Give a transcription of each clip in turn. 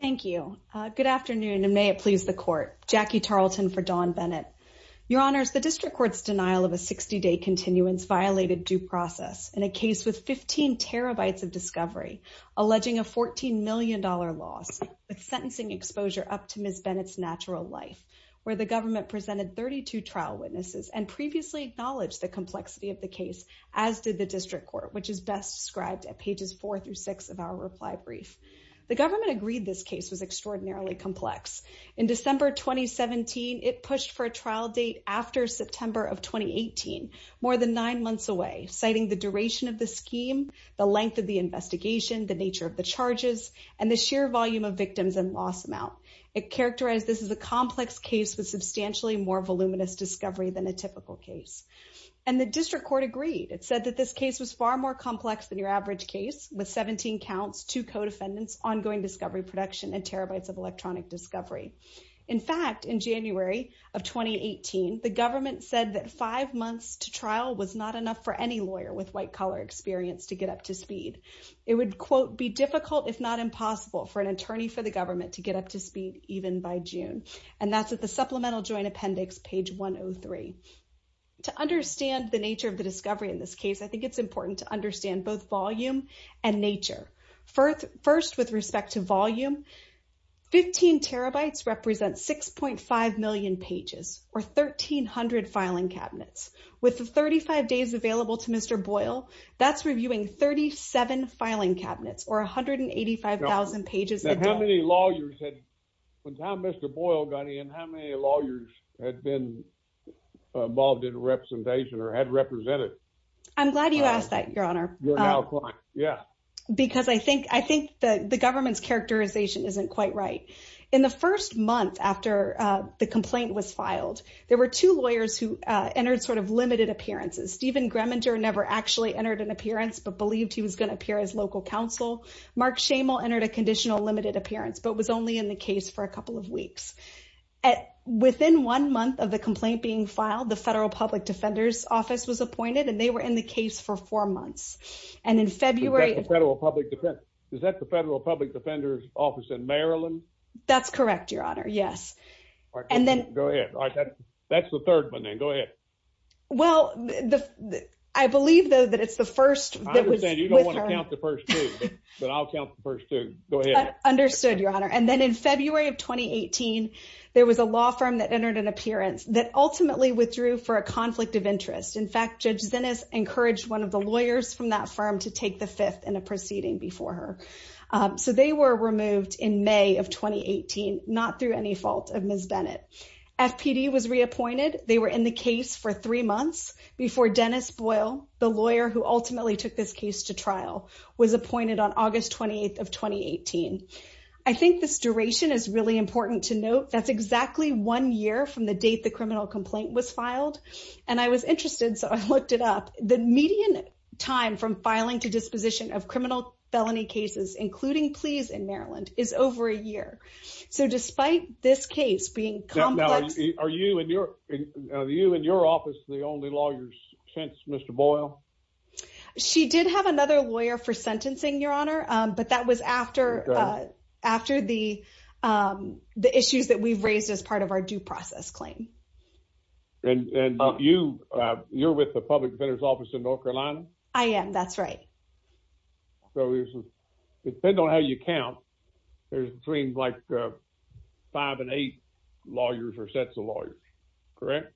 Thank you. Good afternoon, and may it please the court. Jackie Tarleton for Dawn Bennett. Your Honors, the District Court's denial of a 60-day continuance violated due process in a case with 15 terabytes of discovery, alleging a $14 million loss with sentencing exposure up to Ms. Bennett's natural life, where the government presented 32 trial witnesses and previously acknowledged the complexity of the case, as did the District Court, which is best described at case was extraordinarily complex. In December 2017, it pushed for a trial date after September of 2018, more than nine months away, citing the duration of the scheme, the length of the investigation, the nature of the charges, and the sheer volume of victims and loss amount. It characterized this as a complex case with substantially more voluminous discovery than a typical case. And the District Court agreed. It said that this case was far more complex than with 17 counts, two co-defendants, ongoing discovery production, and terabytes of electronic discovery. In fact, in January of 2018, the government said that five months to trial was not enough for any lawyer with white-collar experience to get up to speed. It would, quote, be difficult if not impossible for an attorney for the government to get up to speed even by June. And that's at the Supplemental Joint Appendix, page 103. To understand the nature of volume and nature, first with respect to volume, 15 terabytes represents 6.5 million pages, or 1,300 filing cabinets. With the 35 days available to Mr. Boyle, that's reviewing 37 filing cabinets, or 185,000 pages. Now, how many lawyers had, by the time Mr. Boyle got in, how many lawyers had been involved in representation or had represented? I'm glad you asked that, Your Honor. Yeah. Because I think the government's characterization isn't quite right. In the first month after the complaint was filed, there were two lawyers who entered sort of limited appearances. Stephen Greminger never actually entered an appearance, but believed he was going to appear as local counsel. Mark Schamel entered a conditional limited appearance, but was only in the case for a couple of weeks. Within one month of the complaint being filed, the Federal Public Defender's Office was appointed, and they were in the case for four months. Is that the Federal Public Defender's Office in Maryland? That's correct, Your Honor. Yes. Go ahead. That's the third one then. Go ahead. Well, I believe, though, that it's the first. I understand you don't want to count the first two, but I'll count the first two. Go ahead. Understood, Your Honor. Then in February of 2018, there was a law firm that entered an appearance that ultimately withdrew for a conflict of interest. In fact, Judge Zinnes encouraged one of the lawyers from that firm to take the fifth in a proceeding before her. So they were removed in May of 2018, not through any fault of Ms. Bennett. FPD was reappointed. They were in the case for three months before Dennis Boyle, the lawyer who ultimately took this case to trial, was appointed on August 28th of 2018. I think this duration is really important to note. That's exactly one year from the date the criminal complaint was filed, and I was interested, so I looked it up. The median time from filing to disposition of criminal felony cases, including pleas in Maryland, is over a year. So despite this case being complex... Now, are you and your office the only lawyers since Mr. Boyle? She did have another lawyer for sentencing, Your Honor, but that was after the issues that we've raised as part of our due process claim. And you're with the Public Defender's Office in North Carolina? I am, that's right. So it depends on how you count, there's between five and eight lawyers or sets of lawyers, correct?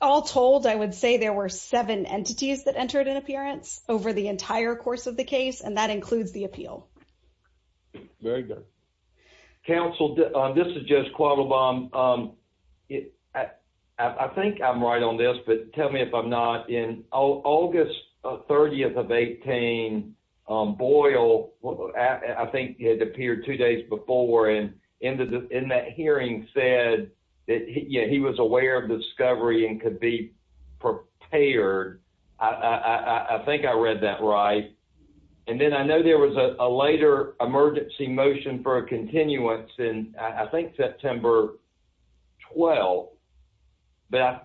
All told, I would say there were seven entities that entered an appearance over the entire course of the case, and that includes the appeal. Very good. Counsel, this is Judge Quavobam. I think I'm right on this, but tell me if I'm not. In August 30th of 18, Boyle, I think he had appeared two days before, and in that hearing said that he was aware of the discovery and could be prepared. I think I read that right. And then I know there was a later emergency motion for a continuance in, I think, September 12th. I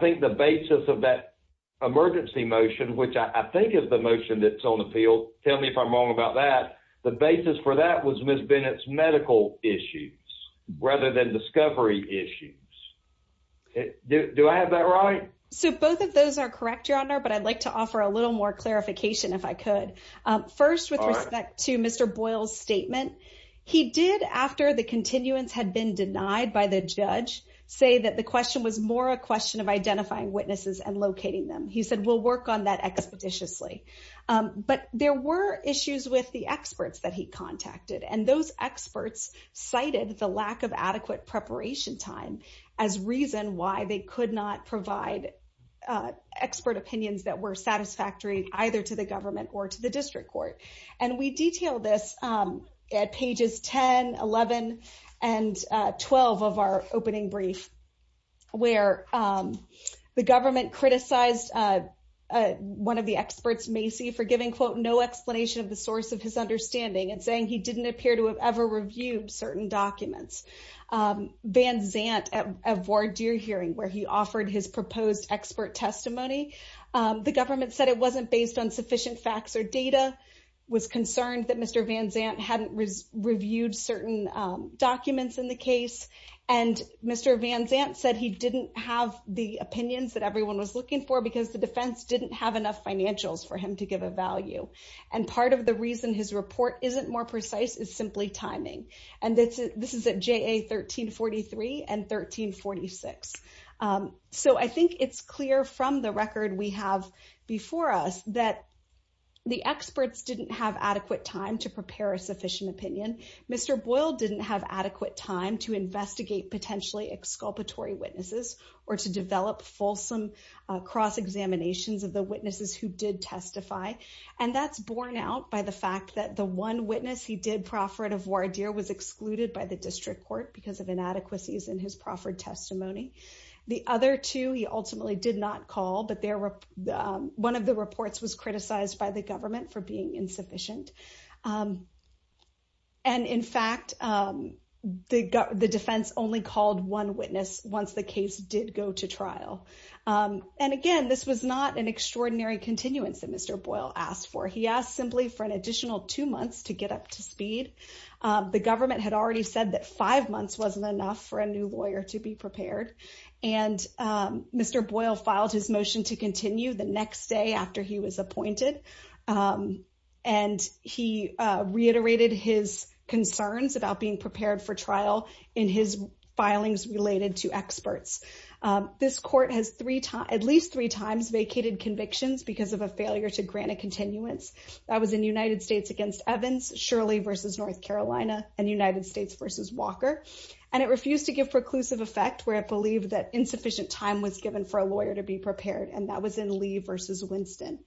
think the basis of that emergency motion, which I think is the motion that's on appeal, tell me if I'm wrong about that, the basis for that was Ms. Bennett's medical issues rather than discovery issues. Do I have that right? So both of those are correct, Your Honor, but I'd like to offer a little more clarification, if I could. First, with respect to Mr. Boyle's statement, he did, after the continuance had been denied by the judge, say that the question was more a question of identifying witnesses and locating them. He said, we'll work on that expeditiously. But there were issues with the experts that he contacted, and those experts cited the lack of adequate preparation time as reason why they could not provide expert opinions that were satisfactory either to the government or to the district court. And we detailed this at pages 10, 11, and 12 of our opening brief, where the government criticized one of the experts, Macy, for giving, quote, no explanation of the source of his understanding and saying he didn't appear to have ever reviewed certain documents. Van Zant, at a voir dire hearing where he offered his proposed expert testimony, the government said it wasn't based on sufficient facts or data, was concerned that Mr. Van Zant hadn't reviewed certain documents in the case. And Mr. Van Zant said he didn't have the opinions that everyone was looking for because the defense didn't have enough financials for him to give a value. And part of the reason his report isn't more precise is simply timing. And this is at JA 1343 and 1346. So I think it's clear from the record we have before us that the experts didn't have adequate time to prepare a sufficient opinion. Mr. Boyle didn't have adequate time to investigate potentially exculpatory witnesses or to develop fulsome cross-examinations of the witnesses who did testify. And that's borne out by the fact that the one witness he did proffer at a voir dire was excluded by the district court because of inadequacies in his proffered testimony. The other two he ultimately did not call, but one of the reports was criticized by the government for being insufficient. And in fact, the defense only called one witness once the case did go to trial. And again, this was not an extraordinary continuance that Mr. Boyle asked for. He asked simply for an additional two months to get up to speed. The government had already said that five months wasn't enough for a new lawyer to be prepared. And Mr. Boyle filed his motion to continue the next day after he was appointed. And he reiterated his concerns about being prepared for trial in his filings related to experts. This court has at least three times vacated convictions because of a failure to grant a continuance. That was in United States against Evans, Shirley versus North Carolina, and United States versus Walker. And it refused to give preclusive effect where it believed that insufficient time was given for a lawyer to be prepared. And that was in Lee versus Winston.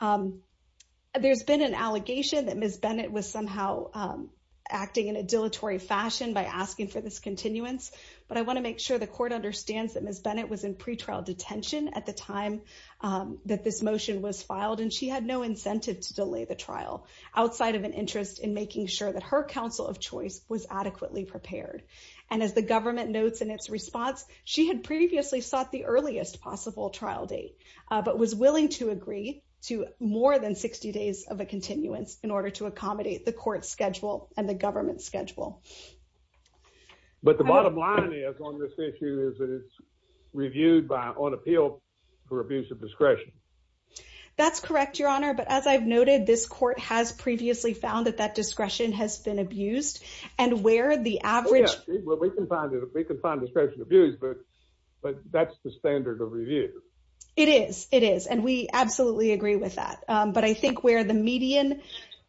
There's been an allegation that Ms. Bennett was somehow acting in a dilatory fashion by asking for this continuance. But I want to make sure the court understands that Ms. Bennett was in pretrial detention at the time that this motion was filed. And she had no incentive to delay the trial outside of an interest in making sure that her counsel of choice was adequately prepared. And as the government notes in its response, she had previously sought the earliest possible trial date, but was willing to agree to more than 60 days of a continuance in order to accommodate the court schedule and the government schedule. But the bottom line is on this issue is that it's reviewed by on appeal for abuse of discretion. That's correct, Your Honor. But as I've noted, this court has previously found that that discretion has been abused. And where the It is. It is. And we absolutely agree with that. But I think where the median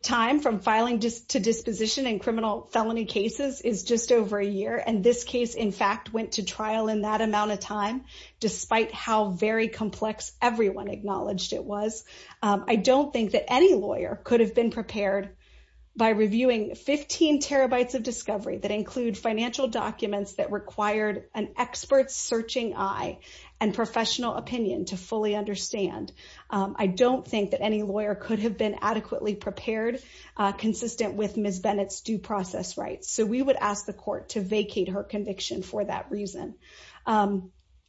time from filing to disposition and criminal felony cases is just over a year. And this case, in fact, went to trial in that amount of time, despite how very complex everyone acknowledged it was. I don't think that any lawyer could have been prepared by reviewing 15 terabytes of discovery that include financial documents that required an expert searching eye and professional opinion to fully understand. I don't think that any lawyer could have been adequately prepared, consistent with Ms. Bennett's due process rights. So we would ask the court to vacate her conviction for that reason.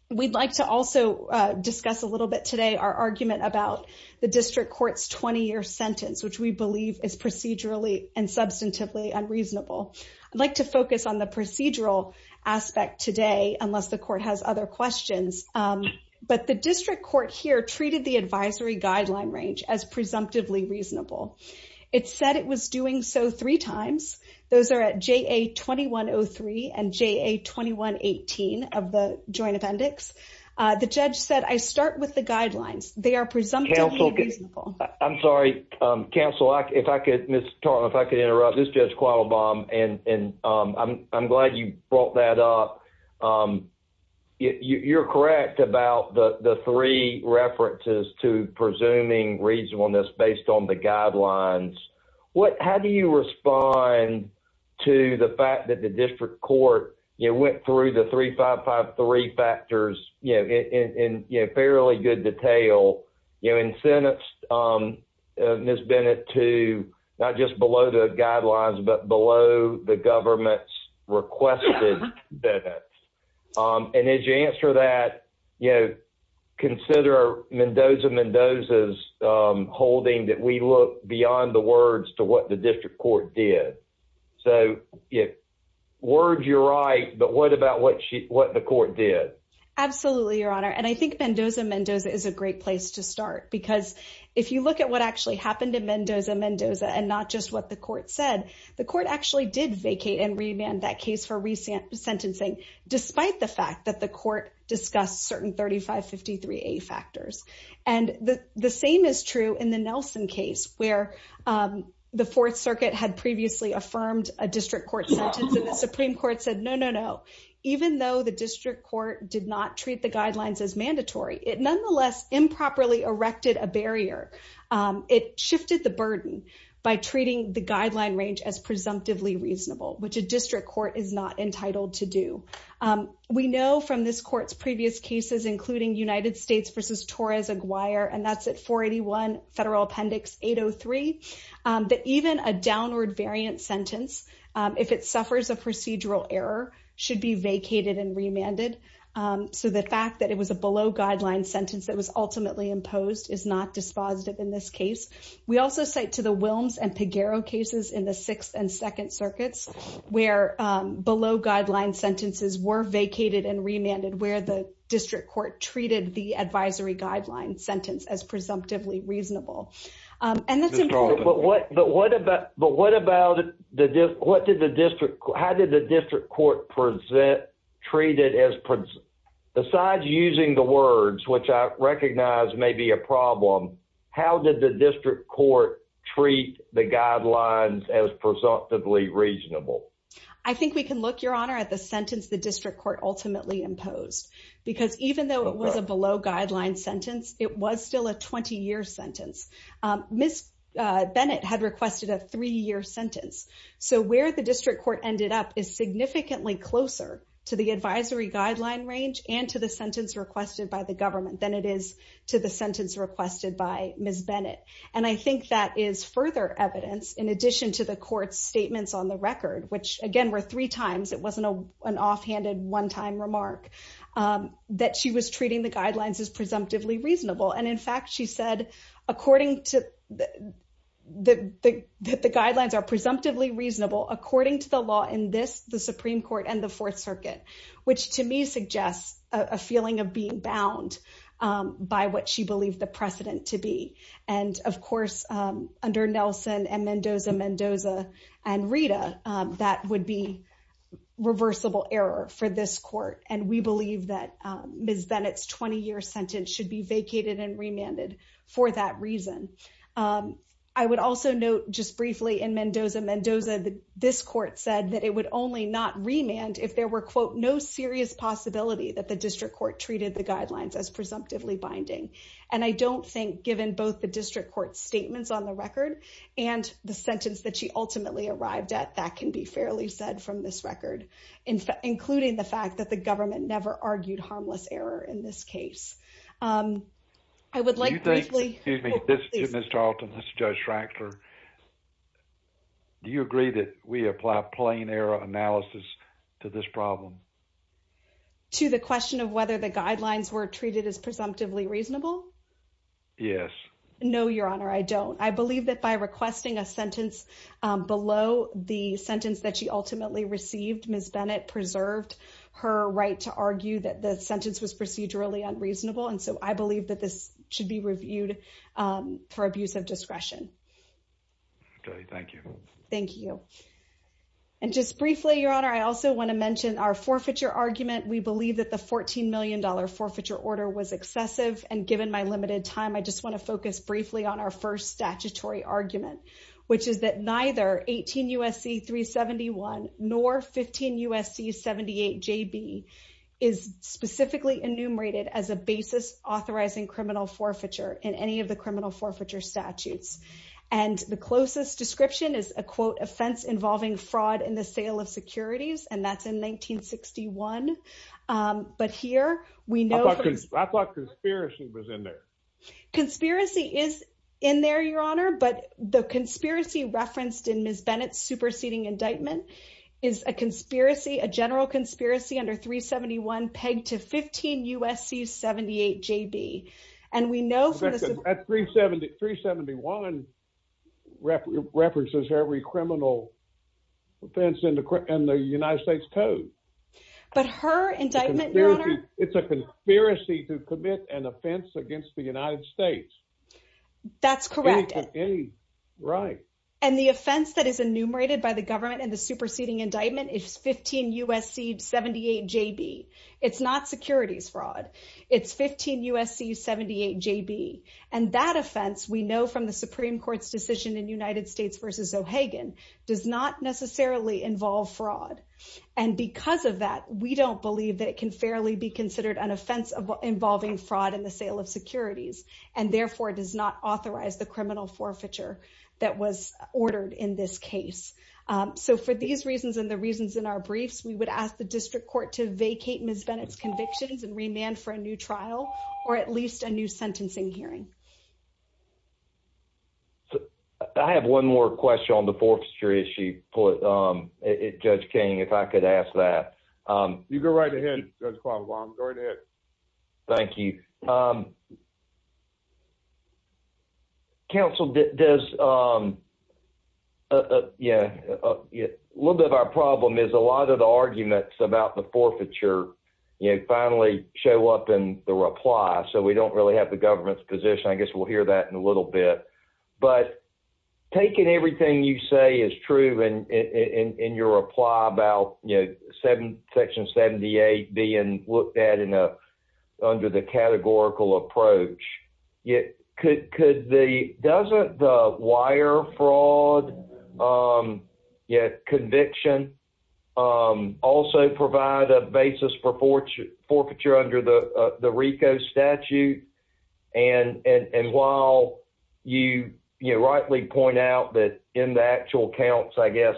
We'd like to also discuss a little bit today our argument about the district court's 20-year sentence, which we believe is procedurally and substantively unreasonable. I'd like to focus on the procedural aspect today, unless the court has other questions. But the district court here treated the advisory guideline range as presumptively reasonable. It said it was doing so three times. Those are at JA-2103 and JA-2118 of the joint appendix. The judge said, I start with the guidelines. They are presumptively reasonable. Counsel, I'm sorry. Counsel, if I could, Ms. Bennett, I'm glad you brought that up. You're correct about the three references to presuming reasonableness based on the guidelines. How do you respond to the fact that the district court went through the 3553 factors in fairly good detail and sentenced Ms. Bennett to not just below the guidelines, but below the government's requested benefits? And as you answer that, consider Mendoza Mendoza's holding that we look beyond the words to what the district court did. So words, you're right. But what about what the court did? Absolutely, Your Honor. And I think Mendoza Mendoza is a great place to start. Because if you look at what actually happened to Mendoza Mendoza, and not just what the court said, the court actually did vacate and remand that case for recent sentencing, despite the fact that the court discussed certain 3553A factors. And the same is true in the Nelson case, where the Fourth Circuit had previously affirmed a district court sentence. And the Supreme Court said, no, no, no. Even though the district court did not treat the guidelines as mandatory, it nonetheless improperly erected a barrier. It shifted the burden by treating the guideline range as presumptively reasonable, which a district court is not entitled to do. We know from this court's previous cases, including United States v. Torres-Aguirre, and that's at 481 Federal Appendix 803, that even a downward variant sentence, if it suffers a procedural error, should be vacated and remanded. So the fact that it was a below-guideline sentence that was ultimately imposed is not dispositive in this case. We also cite to the Wilms and Pegueiro cases in the Sixth and Second Circuits, where below-guideline sentences were vacated and remanded, where the district court treated the advisory guideline sentence as presumptively reasonable. And that's important. But what about, but what about the, what did the district, how did the district court present, treat it as, besides using the words, which I recognize may be a problem, how did the district court treat the guidelines as presumptively reasonable? I think we can look, Your Honor, at the sentence the district court ultimately imposed. Because even though it was a below-guideline sentence, it was still a 20-year sentence. Ms. Bennett had requested a three-year sentence. So where the district court ended up is significantly closer to the advisory guideline range and to the sentence requested by the government than it is to the sentence requested by Ms. Bennett. And I think that is further evidence, in addition to the court's statements on the record, which again were three times, it wasn't an offhanded one-time remark, that she was treating the guidelines as presumptively reasonable. And in fact, she said, according to the, that the guidelines are presumptively reasonable according to the law in this, the Supreme Court and the Fourth Circuit, which to me suggests a feeling of being bound by what she believed the precedent to be. And of course, under Nelson and Mendoza-Mendoza and Rita, that would be reversible error for this court. And we believe that Ms. Bennett's 20-year sentence should be vacated and remanded for that reason. I would also note just briefly in Mendoza-Mendoza, this court said that it would only not remand if there were, quote, no serious possibility that the district court treated the statements on the record. And the sentence that she ultimately arrived at, that can be fairly said from this record, including the fact that the government never argued harmless error in this case. I would like to briefly... Excuse me, this is Mr. Alton, this is Judge Schreckler. Do you agree that we apply plain error analysis to this problem? To the question of whether the guidelines were treated as presumptively reasonable? Yes. No, Your Honor, I don't. I believe that by requesting a sentence below the sentence that she ultimately received, Ms. Bennett preserved her right to argue that the sentence was procedurally unreasonable. And so I believe that this should be reviewed for abuse of discretion. Okay, thank you. Thank you. And just briefly, Your Honor, I also want to mention our forfeiture argument. We believe that the $14 million forfeiture order was excessive. And given my limited time, I just want to focus briefly on our first statutory argument, which is that neither 18 U.S.C. 371 nor 15 U.S.C. 78JB is specifically enumerated as a basis authorizing criminal forfeiture in any of the criminal forfeiture statutes. And the closest description is, quote, offense involving fraud in the sale of securities, and that's in 1961. But here, we know... I thought conspiracy was in there. Conspiracy is in there, Your Honor, but the conspiracy referenced in Ms. Bennett's superseding indictment is a conspiracy, a general conspiracy under 371 pegged to 15 U.S.C. 78JB. And we know... 371 references every criminal offense in the United States Code. But her indictment, Your Honor... It's a conspiracy to commit an offense against the United States. That's correct. Right. And the offense that is enumerated by the government in the superseding indictment is 15 U.S.C. 78JB. And that offense, we know from the Supreme Court's decision in United States versus O'Hagan, does not necessarily involve fraud. And because of that, we don't believe that it can fairly be considered an offense involving fraud in the sale of securities and therefore does not authorize the criminal forfeiture that was ordered in this case. So for these reasons and the reasons in our briefs, we would ask the district court to for at least a new sentencing hearing. I have one more question on the forfeiture issue, Judge King, if I could ask that. You go right ahead, Judge Quavo. Go right ahead. Thank you. Counsel, does... Yeah, a little bit of our problem is a lot of the arguments about the forfeiture finally show up in the reply. So we don't really have the government's position. I guess we'll hear that in a little bit. But taking everything you say is true in your reply about Section 78 being looked at under the categorical approach, doesn't the wire fraud conviction also provide a basis for forfeiture under the RICO statute? And while you rightly point out that in the actual counts, I guess,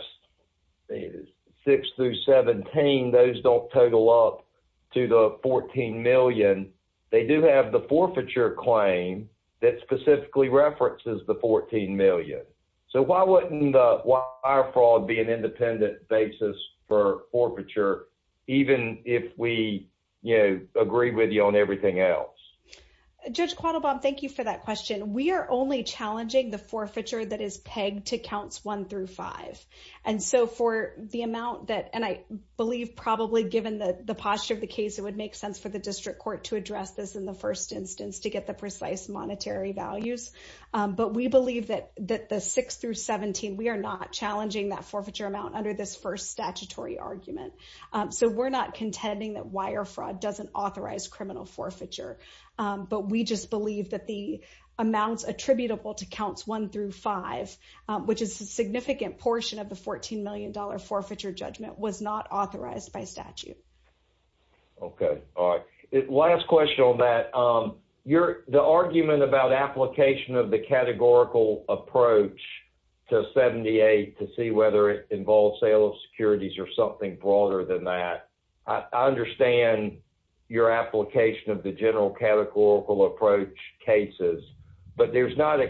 6 through 17, those don't total up to the $14 million. They do have the forfeiture claim that specifically references the $14 million. So why wouldn't wire fraud be an independent basis for forfeiture, even if we agree with you on everything else? Judge Quavo, thank you for that question. We are only challenging the forfeiture that is pegged to counts one through five. And so for the amount that, and I believe probably given the posture of the case, it would make sense for the district court to address this in the first instance to get the precise monetary values. But we believe that the 6 through 17, we are not challenging that forfeiture amount under this first statutory argument. So we're not contending that wire fraud doesn't authorize criminal forfeiture. But we just believe that the amounts attributable to counts one through five, which is a significant portion of the $14 million forfeiture judgment, was not authorized by statute. Okay. All right. Last question on that. The argument about application of the categorical approach to 78 to see whether it involves sale of securities or something broader than that, I understand your application of the general categorical approach cases, but there's not a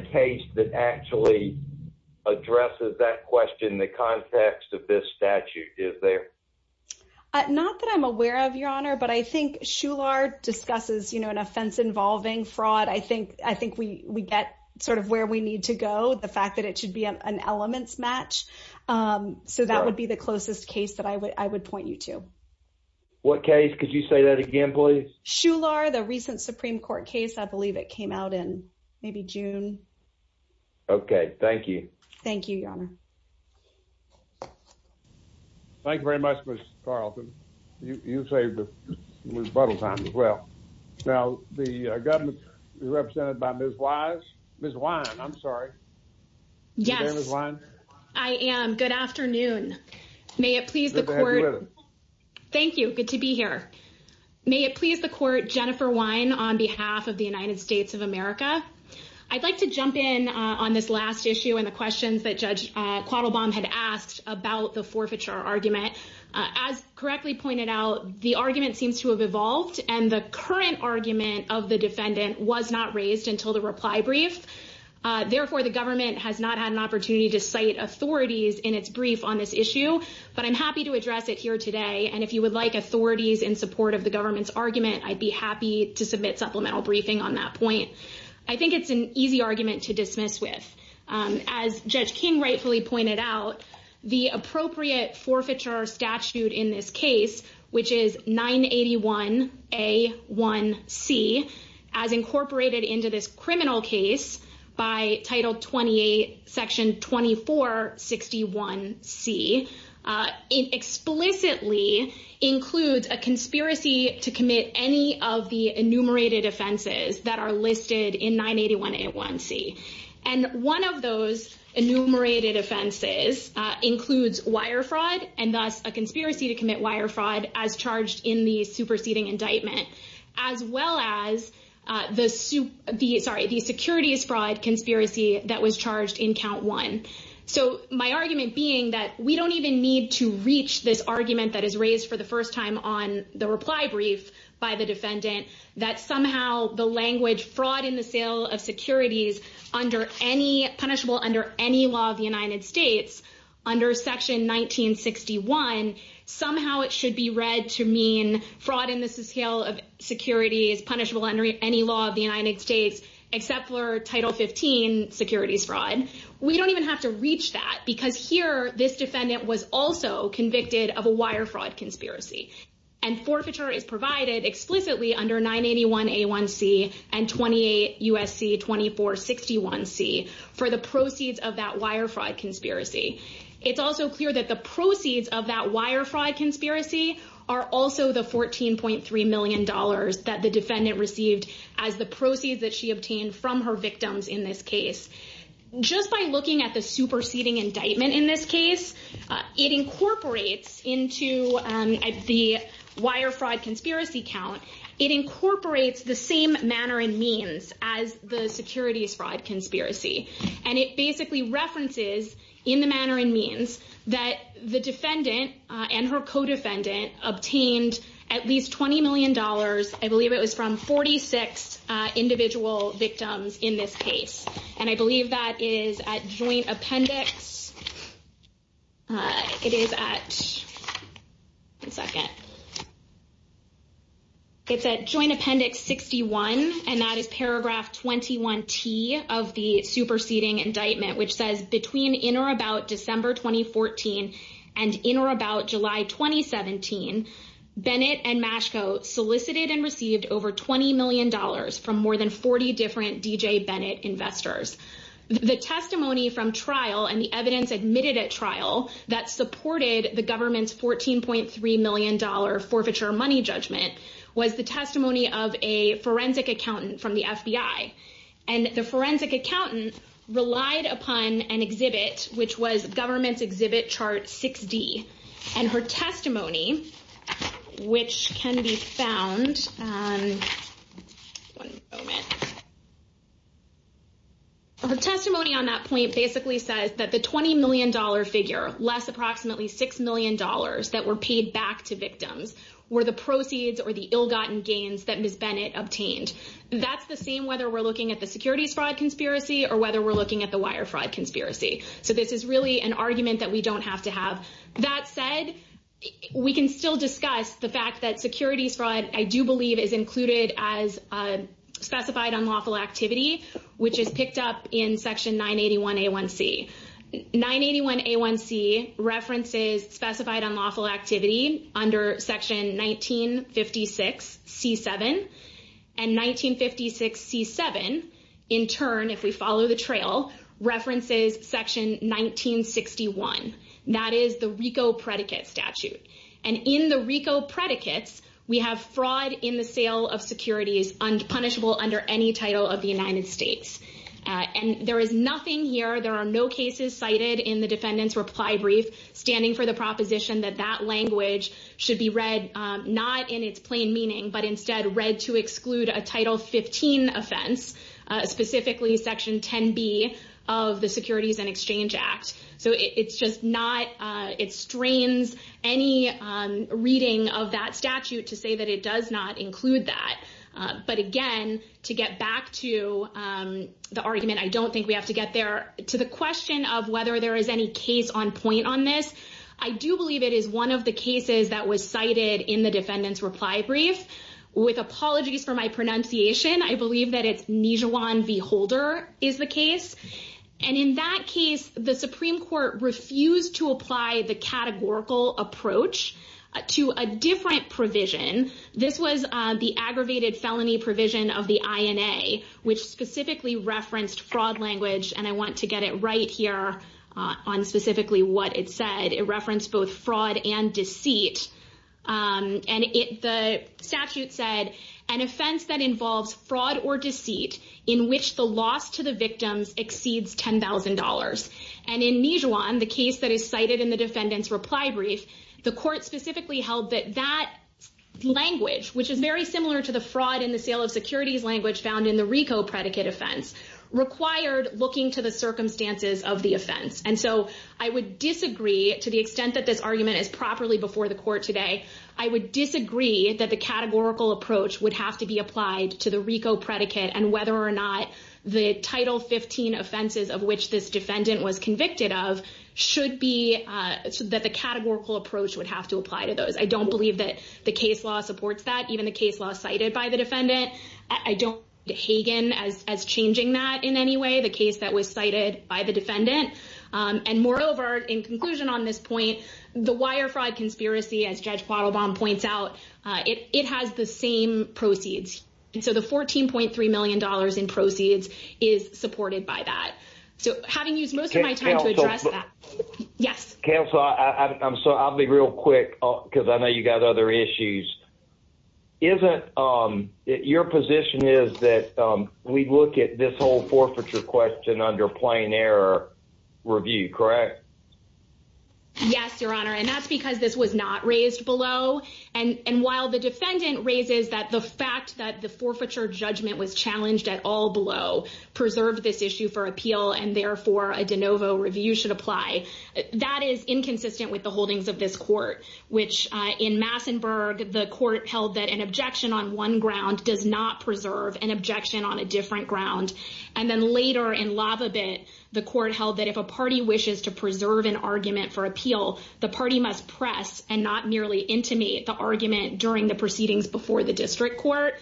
question in the context of this statute, is there? Not that I'm aware of, Your Honor, but I think Shular discusses an offense involving fraud. I think we get sort of where we need to go, the fact that it should be an elements match. So that would be the closest case that I would point you to. What case? Could you say that again, please? Shular, the recent Supreme Court case, I believe it came out in maybe June. Okay. Thank you. Thank you, Your Honor. Thank you very much, Ms. Carlton. You saved the rebuttal time as well. Now, the government represented by Ms. Wise, Ms. Wine, I'm sorry. Yes, I am. Good afternoon. May it please the court. Thank you. Good to be here. May it please the court, Jennifer Wine on behalf of the United States of America. I'd like to jump in on this last issue and the questions that Judge Quattlebaum had asked about the forfeiture argument. As correctly pointed out, the argument seems to have evolved and the current argument of the defendant was not raised until the reply brief. Therefore, the government has not had an opportunity to cite authorities in its brief on this issue, but I'm happy to address it here today. And if you would like authorities in support of the government's argument, I'd be happy to submit supplemental briefing on that point. I think it's an easy argument to dismiss with. As Judge King rightfully pointed out, the appropriate forfeiture statute in this case, which is 981A1C, as incorporated into this in explicitly includes a conspiracy to commit any of the enumerated offenses that are listed in 981A1C. And one of those enumerated offenses includes wire fraud and thus a conspiracy to commit wire fraud as charged in the superseding indictment, as well as the security fraud conspiracy that was charged in count one. So my argument being that we don't even need to reach this argument that is raised for the first time on the reply brief by the defendant, that somehow the language fraud in the sale of securities under any punishable under any law of the United States under section 1961, somehow it should be read to mean fraud in the scale of security is punishable under any law of the United States, except for title 15 securities fraud. We don't even have to reach that because here this defendant was also convicted of a wire fraud conspiracy and forfeiture is provided explicitly under 981A1C and 28 USC 2461C for the proceeds of that wire fraud conspiracy. It's also clear that the proceeds of that wire fraud conspiracy are also the 14.3 million dollars that the defendant received as the proceeds that she obtained from her victims in this case. Just by looking at the superseding indictment in this case, it incorporates into the wire fraud conspiracy count, it incorporates the same manner and means as the securities fraud conspiracy. And it basically references in the manner and means that the defendant and her co-defendant obtained at least 20 million dollars, I believe it was from 46 individual victims in this case. And I believe that is at joint appendix, it is at, one second, it's at joint appendix 61 and that is paragraph 21T of the superseding indictment which says between in or about December 2014 and in or about July 2017, Bennett and Mashko solicited and received over 20 million dollars from more than 40 different D.J. Bennett investors. The testimony from trial and the evidence admitted at trial that supported the government's 14.3 million dollar forfeiture money judgment was the testimony of a forensic accountant from the FBI. And the forensic accountant relied upon an exhibit which was government's exhibit chart 6D. And her testimony, which can be found, one moment, her testimony on that point basically says that the 20 million dollar figure, less approximately 6 million dollars that were paid back to victims, were the proceeds or the securities fraud conspiracy or whether we're looking at the wire fraud conspiracy. So this is really an argument that we don't have to have. That said, we can still discuss the fact that securities fraud, I do believe, is included as specified unlawful activity, which is picked up in section 981A1C. 981A1C references specified unlawful activity under section 1956C7. And 1956C7, in turn, if we follow the trail, references section 1961. That is the RICO predicate statute. And in the RICO predicates, we have fraud in the sale of securities unpunishable under any title of the United States. And there is nothing here. There are no cases cited in the defendant's reply brief standing for the proposition that that language should be read not in its plain meaning, but instead read to exclude a title 15 offense, specifically section 10B of the Securities and Exchange Act. So it's just not, it strains any reading of that statute to say that it does not include that. But again, to get back to the argument, I don't think we have to get there. To the question of whether there is any case on point on this, I do believe it is one of the cases that was cited in the defendant's reply brief. With apologies for my pronunciation, I believe that it's Nijawan v. Holder is the case. And in that case, the Supreme Court refused to apply the categorical approach to a different provision. This was the aggravated felony provision of the INA, which specifically referenced fraud language. And I want to get it right here on specifically what it said. It referenced both fraud and deceit. And the statute said, an offense that involves fraud or deceit in which the loss to the victims exceeds $10,000. And in Nijawan, the case that is cited in the defendant's reply brief, the court specifically held that that language, which is very similar to the fraud in the sale of securities language found in the RICO predicate offense, required looking to the circumstances of the offense. And so I would disagree, to the extent that this argument is properly before the court today, I would disagree that the categorical approach would have to be applied to the RICO predicate and whether or not the Title 15 offenses of which this defendant was convicted of should be, that the categorical approach would have to apply to those. I don't believe that the case law supports that, even the case law cited by the defendant. I don't see Hagan as changing that in any way, the case that was cited by the defendant. And moreover, in conclusion on this point, the wire fraud conspiracy, as Judge Quattlebaum points out, it has the same proceeds. And so the $14.3 million in proceeds is supported by that. So having used most of my time to address that, yes. Counsel, I'm sorry, I'll be real quick, because I know you got other issues. Isn't, your position is that we look at this whole forfeiture question under plain error review, correct? Yes, Your Honor. And that's because this was not raised below. And while the defendant raises that the fact that the forfeiture judgment was challenged at all below preserved this issue for appeal, and therefore a de novo review should apply. That is inconsistent with the holdings of this court, which in Massenburg, the court held that an objection on one ground does not preserve an objection on a different ground. And then later in Lavabit, the court held that if a party wishes to preserve an argument for appeal, the party must press and not merely intimate the argument during the proceedings before the district court.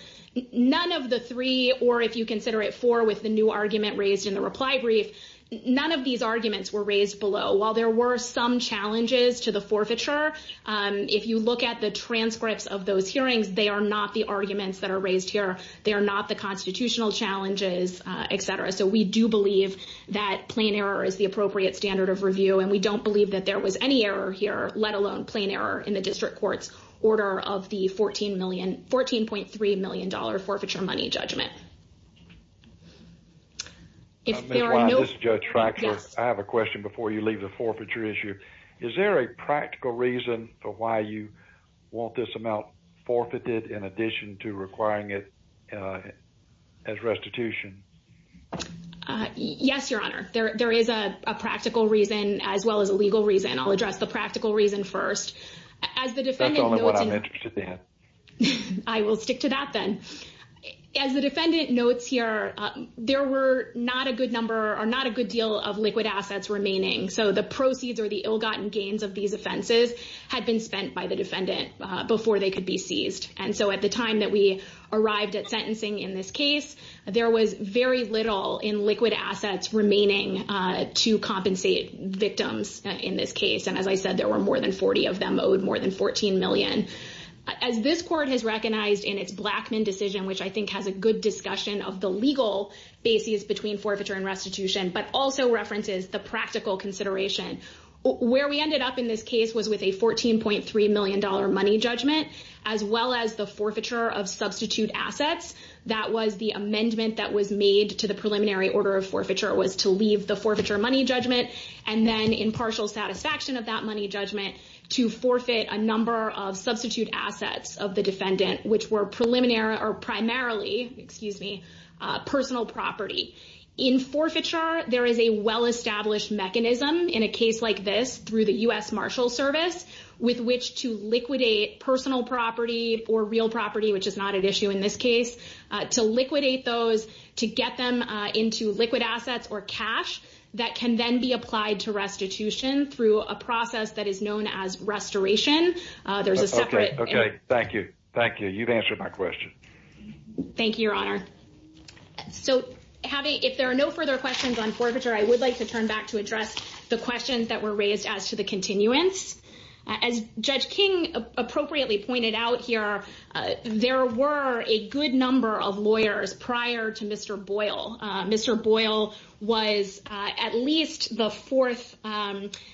None of the three, or if you consider it four with the new argument raised in the reply brief, none of these arguments were raised below. While there were some challenges to the forfeiture, if you look at the transcripts of those hearings, they are not the arguments that are raised here. They are not the constitutional challenges, et cetera. So we do believe that plain error is the appropriate standard of review. And we don't believe that there was any error here, let alone plain error in the district court's order of the $14.3 million forfeiture money judgment. I have a question before you leave the forfeiture issue. Is there a practical reason for why you want this amount forfeited in addition to requiring it as restitution? Yes, Your Honor. There is a practical reason as well as a legal reason. I'll address the practical reason first. That's only what I'm interested in. As the defendant knows, and I will stick to that then. As the defendant notes here, there were not a good number or not a good deal of liquid assets remaining. So the proceeds or the ill-gotten gains of these offenses had been spent by the defendant before they could be seized. And so at the time that we arrived at sentencing in this case, there was very little in liquid assets remaining to compensate victims in this case. And as I said, there were more than 40 of them owed more than $14 million. As this court has recognized in its Blackmun decision, which I think has a good discussion of the legal basis between forfeiture and restitution, but also references the practical consideration, where we ended up in this case was with a $14.3 million money judgment, as well as the forfeiture of substitute assets. That was the amendment that was made to the preliminary order of forfeiture was to leave the forfeiture money judgment. And then in partial satisfaction of that money judgment to forfeit a number of substitute assets of the defendant, which were primarily personal property. In forfeiture, there is a well-established mechanism in a case like this through the U.S. Marshal Service with which to liquidate personal property or real property, which is not an issue in this case, to liquidate those, to get them into liquid assets or cash that can then be applied to restitution through a process that is known as restoration. There's a separate- Okay. Okay. Thank you. Thank you. You've answered my question. Thank you, Your Honor. So, if there are no further questions on forfeiture, I would like to turn back to address the questions that were raised as to the continuance. As Judge King appropriately pointed out here, there were a good number of lawyers prior to Mr. Boyle. Mr. Boyle was at least the fourth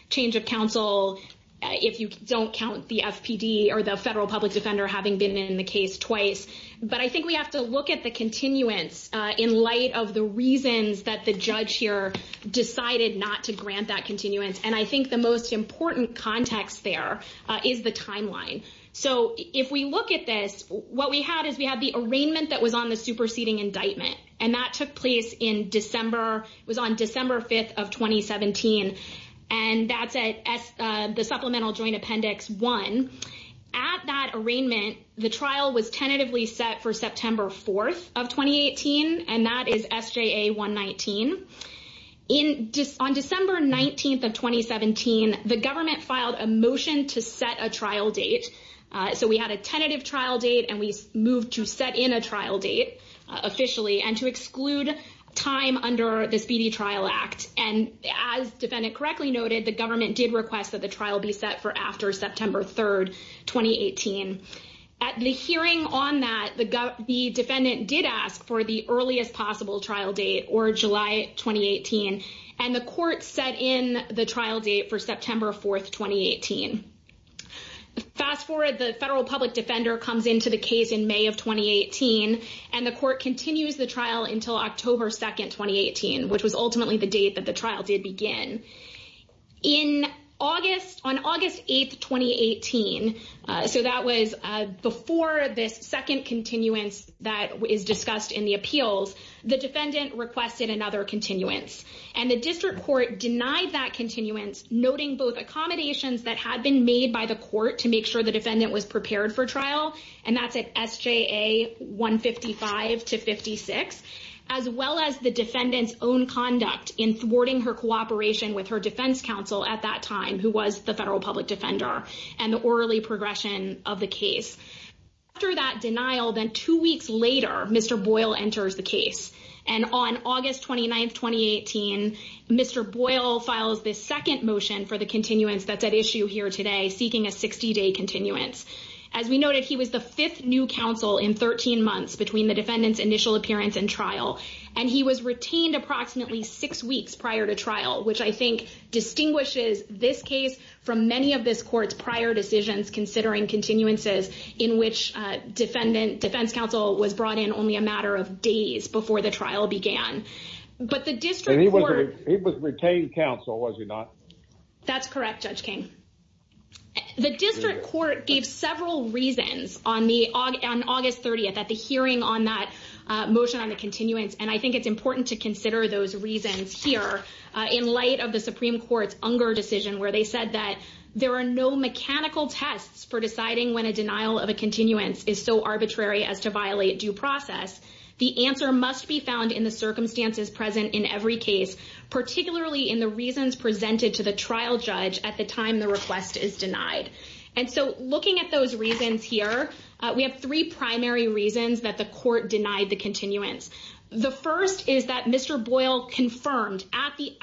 change of counsel, if you don't count the FPD or the federal public defender having been in the case twice. But I think we have to look at the continuance in light of the reasons that the judge here decided not to grant that continuance. And I think the most important context there is the timeline. So, if we look at this, what we had is we had the arraignment that was on the superseding indictment. And that took place in December. It was on December 5th of 2017. And that's at the Supplemental Joint Appendix 1. At that arraignment, the trial was tentatively set for September 4th of 2018. And that is SJA 119. On December 19th of 2017, the government filed a motion to set a trial date. So, we had a tentative trial date, and we moved to set in a trial date officially and to exclude time under the Speedy Trial Act. And as the defendant correctly noted, the government did request that the trial be set for after September 3rd, 2018. At the hearing on that, the defendant did ask for the earliest possible trial date, or July 2018. And the court set in the trial date for September 4th, 2018. Fast forward, the federal public defender comes into the case in May of 2018, and the court continues the trial until October 2nd, 2018, which was ultimately the date that the trial did begin. In August, on August 8th, 2018, so that was before this second continuance that is discussed in the appeals, the defendant requested another continuance. And the district court denied that continuance, noting both accommodations that had to be made by the court to make sure the defendant was prepared for trial. And that's at SJA 155 to 56, as well as the defendant's own conduct in thwarting her cooperation with her defense counsel at that time, who was the federal public defender and the orderly progression of the case. After that denial, then two weeks later, Mr. Boyle enters the case. And on August 29th, 2018, Mr. Boyle files this second motion for the continuance that's seeking a 60-day continuance. As we noted, he was the fifth new counsel in 13 months between the defendant's initial appearance and trial. And he was retained approximately six weeks prior to trial, which I think distinguishes this case from many of this court's prior decisions considering continuances in which defense counsel was brought in only a matter of days before the trial began. But the district court- And he was retained counsel, was he not? That's correct, Judge King. The district court gave several reasons on August 30th at the hearing on that motion on the continuance. And I think it's important to consider those reasons here in light of the Supreme Court's Unger decision, where they said that there are no mechanical tests for deciding when a denial of a continuance is so arbitrary as to violate due process. The answer must be found in the circumstances present in every case, particularly in the case where a request is denied. And so, looking at those reasons here, we have three primary reasons that the court denied the continuance. The first is that Mr. Boyle confirmed at the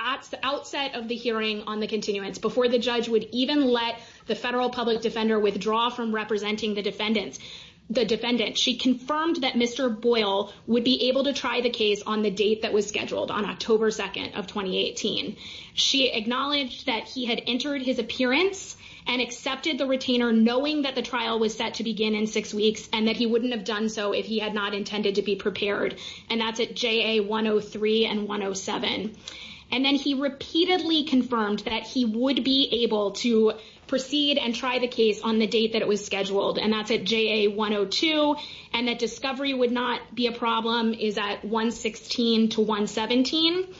outset of the hearing on the continuance, before the judge would even let the federal public defender withdraw from representing the defendant, she confirmed that Mr. Boyle would be able to try the case on the date that was scheduled, on October 2nd of 2018. She acknowledged that he had entered his appearance and accepted the retainer, knowing that the trial was set to begin in six weeks, and that he wouldn't have done so if he had not intended to be prepared. And that's at JA 103 and 107. And then he repeatedly confirmed that he would be able to proceed and try the case on the date that it was scheduled. And that's at JA 102. And that discovery would not be a problem is at 116 to 117.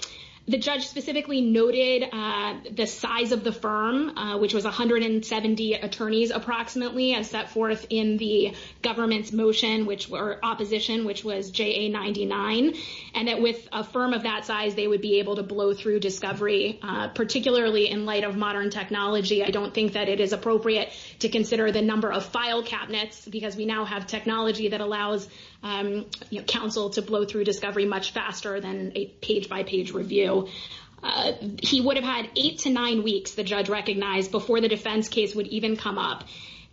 The judge specifically noted the size of the firm, which was 170 attorneys approximately, and set forth in the government's motion, which were opposition, which was JA 99. And that with a firm of that size, they would be able to blow through discovery, particularly in light of modern technology. I don't think that it is appropriate to consider the number of file cabinets, because we now have technology that allows counsel to blow through discovery much faster than a page review. He would have had eight to nine weeks, the judge recognized, before the defense case would even come up.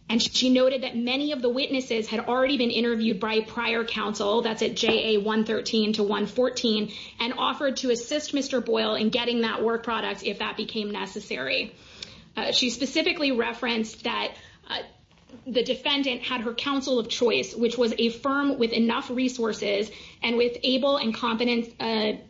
And she noted that many of the witnesses had already been interviewed by prior counsel, that's at JA 113 to 114, and offered to assist Mr. Boyle in getting that work product if that became necessary. She specifically referenced that the defendant had her counsel of choice, which was a firm with enough resources and with able and competent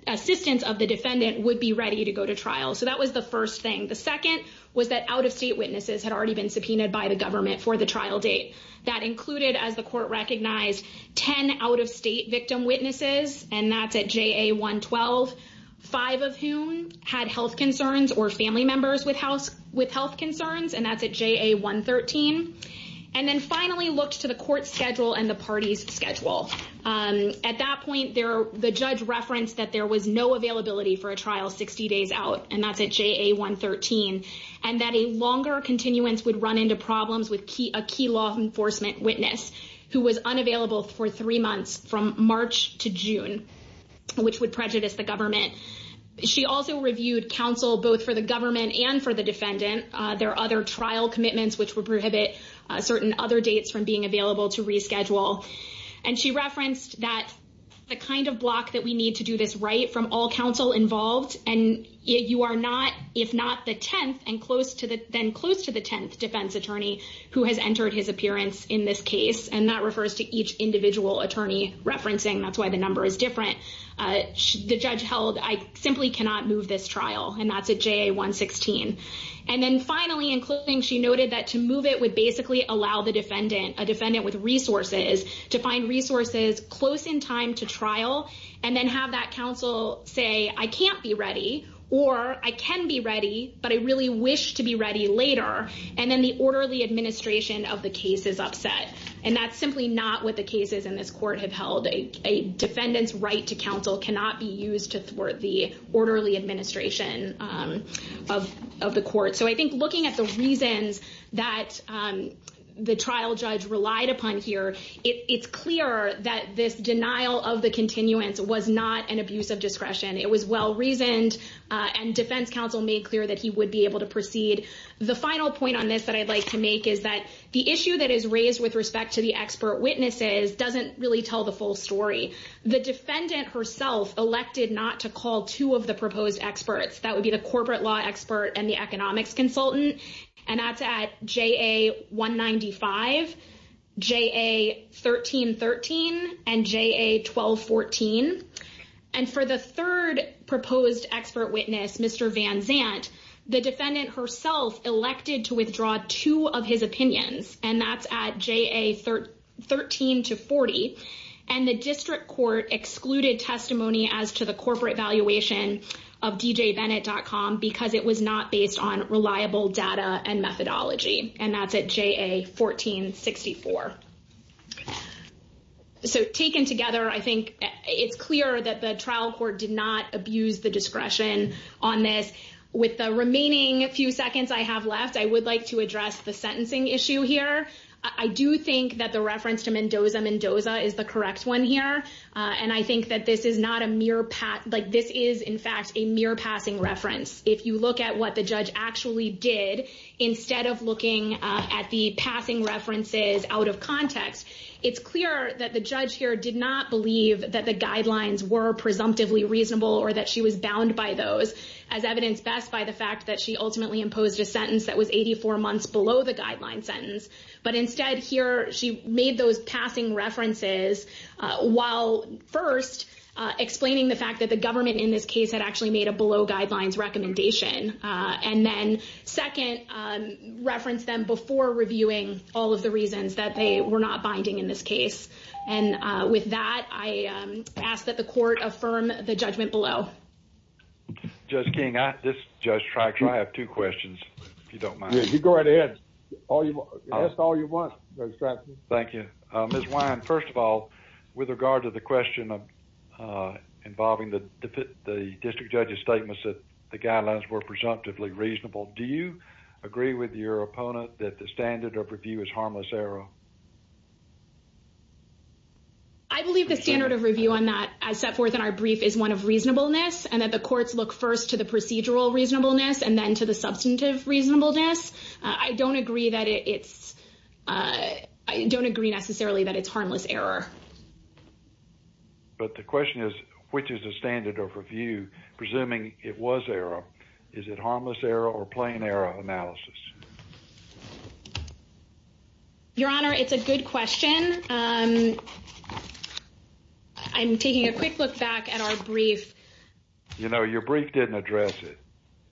assistance of the defendant would be ready to go to trial. So that was the first thing. The second was that out-of-state witnesses had already been subpoenaed by the government for the trial date. That included, as the court recognized, 10 out-of-state victim witnesses, and that's at JA 112, five of whom had health concerns or family members with health concerns, and that's at JA 113. And then finally looked to the court schedule and the party's schedule. At that point, the judge referenced that there was no availability for a trial 60 days out, and that's at JA 113, and that a longer continuance would run into problems with a key law enforcement witness who was unavailable for three months from March to June, which would prejudice the government. She also reviewed counsel both for the government and for the defendant. There are other trial commitments, which would prohibit certain other dates from being available to reschedule. And she referenced that the kind of block that we need to do this right from all counsel involved, and you are not, if not the 10th and then close to the 10th defense attorney who has entered his appearance in this case, and that refers to each individual attorney referencing. That's why the number is different. The judge held, I simply cannot move this trial, and that's at JA 116. And then finally, including she noted that to move it would basically allow the defendant, a defendant with resources, to find resources close in time to trial, and then have that counsel say, I can't be ready, or I can be ready, but I really wish to be ready later. And then the orderly administration of the case is upset. And that's simply not what the cases in this court have held. A defendant's right to counsel cannot be used to thwart the orderly administration of the court. So I think looking at the reasons that the trial judge relied upon here, it's clear that this denial of the continuance was not an abuse of discretion. It was well-reasoned, and defense counsel made clear that he would be able to proceed. The final point on this that I'd like to make is that the issue that is raised with respect to the expert witnesses doesn't really tell the full story. The defendant herself elected not to call two of the proposed experts. That would be the corporate law expert and the economics consultant. And that's at JA 195, JA 1313, and JA 1214. And for the third proposed expert witness, Mr. Van Zant, the defendant herself elected to withdraw two of his opinions. And that's at JA 13 to 40. And the district court excluded testimony as to the corporate valuation of djbennett.com because it was not based on reliable data and methodology. And that's at JA 1464. So taken together, I think it's clear that the trial court did not abuse the discretion on this. With the remaining few seconds I have left, I would like to address the sentencing issue here. I do think that the reference to Mendoza, Mendoza is the correct one here. And I think that this is not a mere pass. Like, this is, in fact, a mere passing reference. If you look at what the judge actually did, instead of looking at the passing references out of context, it's clear that the judge here did not believe that the guidelines were presumptively reasonable or that she was bound by those. As evidenced best by the fact that she ultimately imposed a sentence that was 84 months below the guideline sentence. But instead here, she made those passing references while, first, explaining the fact that the government in this case had actually made a below guidelines recommendation. And then, second, referenced them before reviewing all of the reasons that they were not binding in this case. And with that, I ask that the court affirm the judgment below. Judge King, this is Judge Stryker. I have two questions, if you don't mind. Yeah, you go right ahead. Ask all you want, Judge Stryker. Thank you. Ms. Wyand, first of all, with regard to the question of involving the district judge's statements that the guidelines were presumptively reasonable, do you agree with your opponent that the standard of review is harmless error? I believe the standard of review on that, as set forth in our brief, is one of reasonableness. And that the courts look first to the procedural reasonableness and then to the substantive reasonableness. I don't agree that it's—I don't agree necessarily that it's harmless error. But the question is, which is the standard of review? Presuming it was error, is it harmless error or plain error analysis? Your Honor, it's a good question. I'm taking a quick look back at our brief. You know, your brief didn't address it.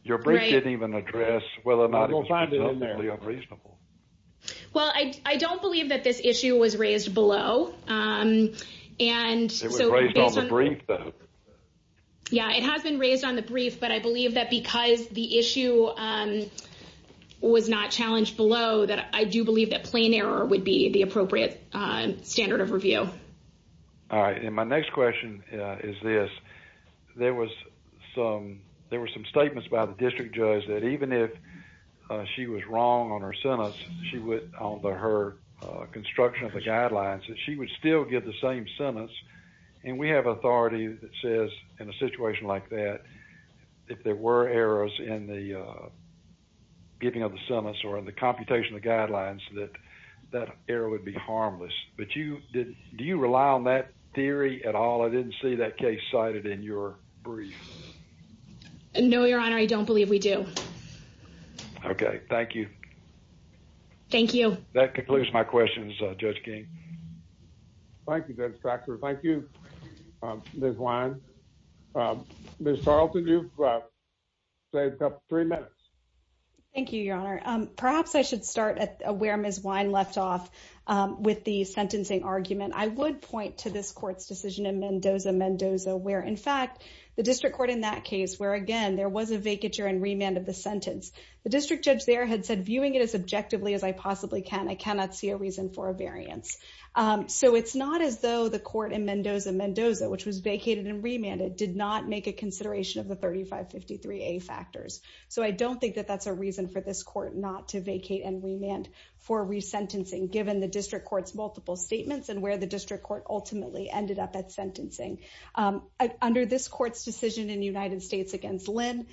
Your brief didn't even address whether or not it was presumptively unreasonable. Well, I don't believe that this issue was raised below. It was raised on the brief, though. Yeah, it has been raised on the brief. But I believe that because the issue was not challenged below, that I do believe that plain error would be the appropriate standard of review. All right. And my next question is this. There was some—there were some statements by the district judge that even if she was wrong on her sentence, she would—on her construction of the guidelines, that she would still give the same sentence. And we have authority that says, in a situation like that, if there were errors in the giving of the sentence or in the computation of guidelines, that that error would be harmless. But you—do you rely on that theory at all? I didn't see that case cited in your brief. No, Your Honor. I don't believe we do. Okay. Thank you. Thank you. That concludes my questions, Judge King. Thank you, Judge Factor. Thank you, Ms. Lyons. Ms. Tarleton, you've saved up three minutes. Thank you, Your Honor. Perhaps I should start where Ms. Wine left off with the sentencing argument. I would point to this court's decision in Mendoza-Mendoza where, in fact, the district court in that case where, again, there was a vacature and remand of the sentence, the district judge there had said, viewing it as objectively as I possibly can, I cannot see a reason for a variance. So it's not as though the court in Mendoza-Mendoza, which was vacated and remanded, did not make a consideration of the 3553A factors. So I don't think that that's a reason for this court not to vacate and remand for resentencing, given the district court's multiple statements and where the district court ultimately ended up at sentencing. Under this court's decision in the United States against Lynn,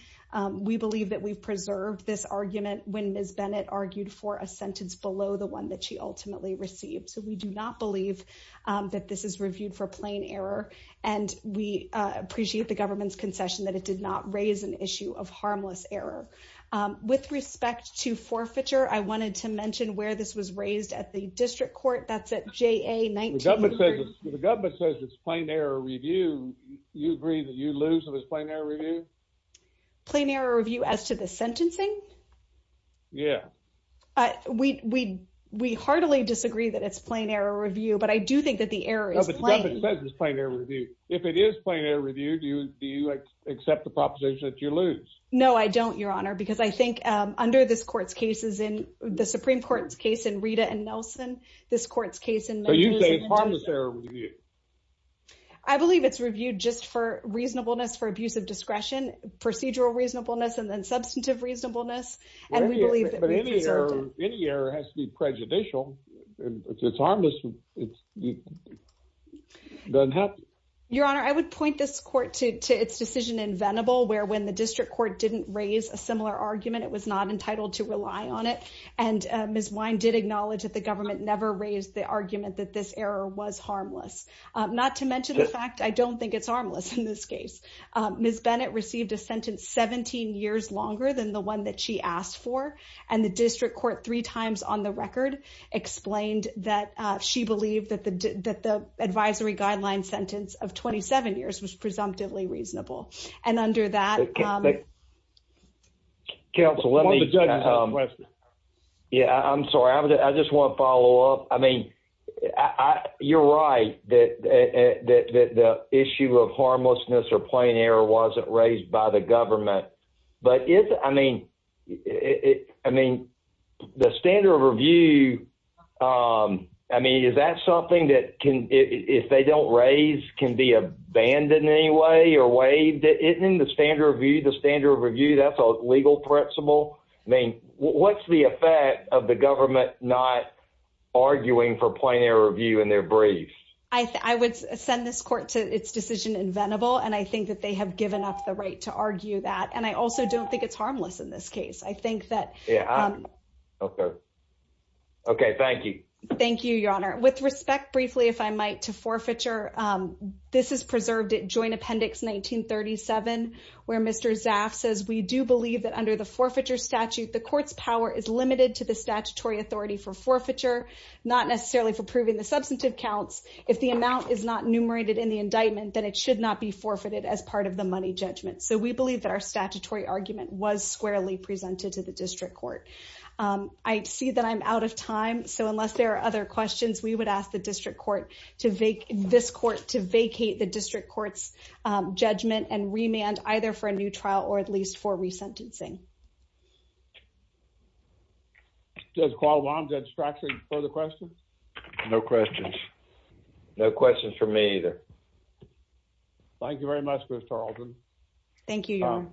we believe that we've preserved this argument when Ms. Bennett argued for a sentence below the one that she ultimately received. So we do not believe that this is reviewed for plain error, and we appreciate the government's concession that it did not raise an issue of harmless error. With respect to forfeiture, I wanted to mention where this was raised at the district court. That's at JA-19-3. The government says it's plain error review. You agree that you lose if it's plain error review? Plain error review as to the sentencing? Yeah. We heartily disagree that it's plain error review, but I do think that the error is plain. No, but the government says it's plain error review. If it is plain error review, do you accept the proposition that you lose? No, I don't, Your Honor, because I think under the Supreme Court's case in Rita and Nelson, this court's case in- So you say it's harmless error review? I believe it's reviewed just for reasonableness for abuse of discretion, procedural reasonableness, and then substantive reasonableness. And we believe that we preserved it. Any error has to be prejudicial, and if it's harmless, it doesn't have to. Your Honor, I would point this court to its decision in Venable, where when the district court didn't raise a similar argument, it was not entitled to rely on it. And Ms. Wine did acknowledge that the government never raised the argument that this error was harmless, not to mention the fact I don't think it's harmless in this case. Ms. Bennett received a sentence 17 years longer than the one that she asked for, and the district court three times on the record explained that she believed that the advisory guideline sentence of 27 years was presumptively reasonable. And under that- Counsel, let me- One of the judges has a question. Yeah, I'm sorry. I just want to follow up. I mean, you're right that the issue of harmlessness or plain error wasn't raised by the government. But I mean, the standard of review, I mean, is that something that if they don't raise, can be abandoned in any way or waived? Isn't the standard of review the standard of review? That's a legal principle. I mean, what's the effect of the government not arguing for plain error review in their briefs? I would send this court to its decision inventable, and I think that they have given up the right to argue that. And I also don't think it's harmless in this case. I think that- Okay. Okay, thank you. Thank you, Your Honor. With respect, briefly, if I might, to forfeiture, this is preserved at joint appendix 1937, where Mr. Zaff says, We do believe that under the forfeiture statute, the court's power is limited to the statutory authority for forfeiture, not necessarily for proving the substantive counts. If the amount is not numerated in the indictment, then it should not be forfeited as part of the money judgment. So we believe that our statutory argument was squarely presented to the district court. I see that I'm out of time. So unless there are other questions, we would ask the district court to vacate- either for a new trial or at least for resentencing. Judge Qualam, Judge Strachan, further questions? No questions. No questions for me either. Thank you very much, Ms. Tarleton. Thank you, Your Honor.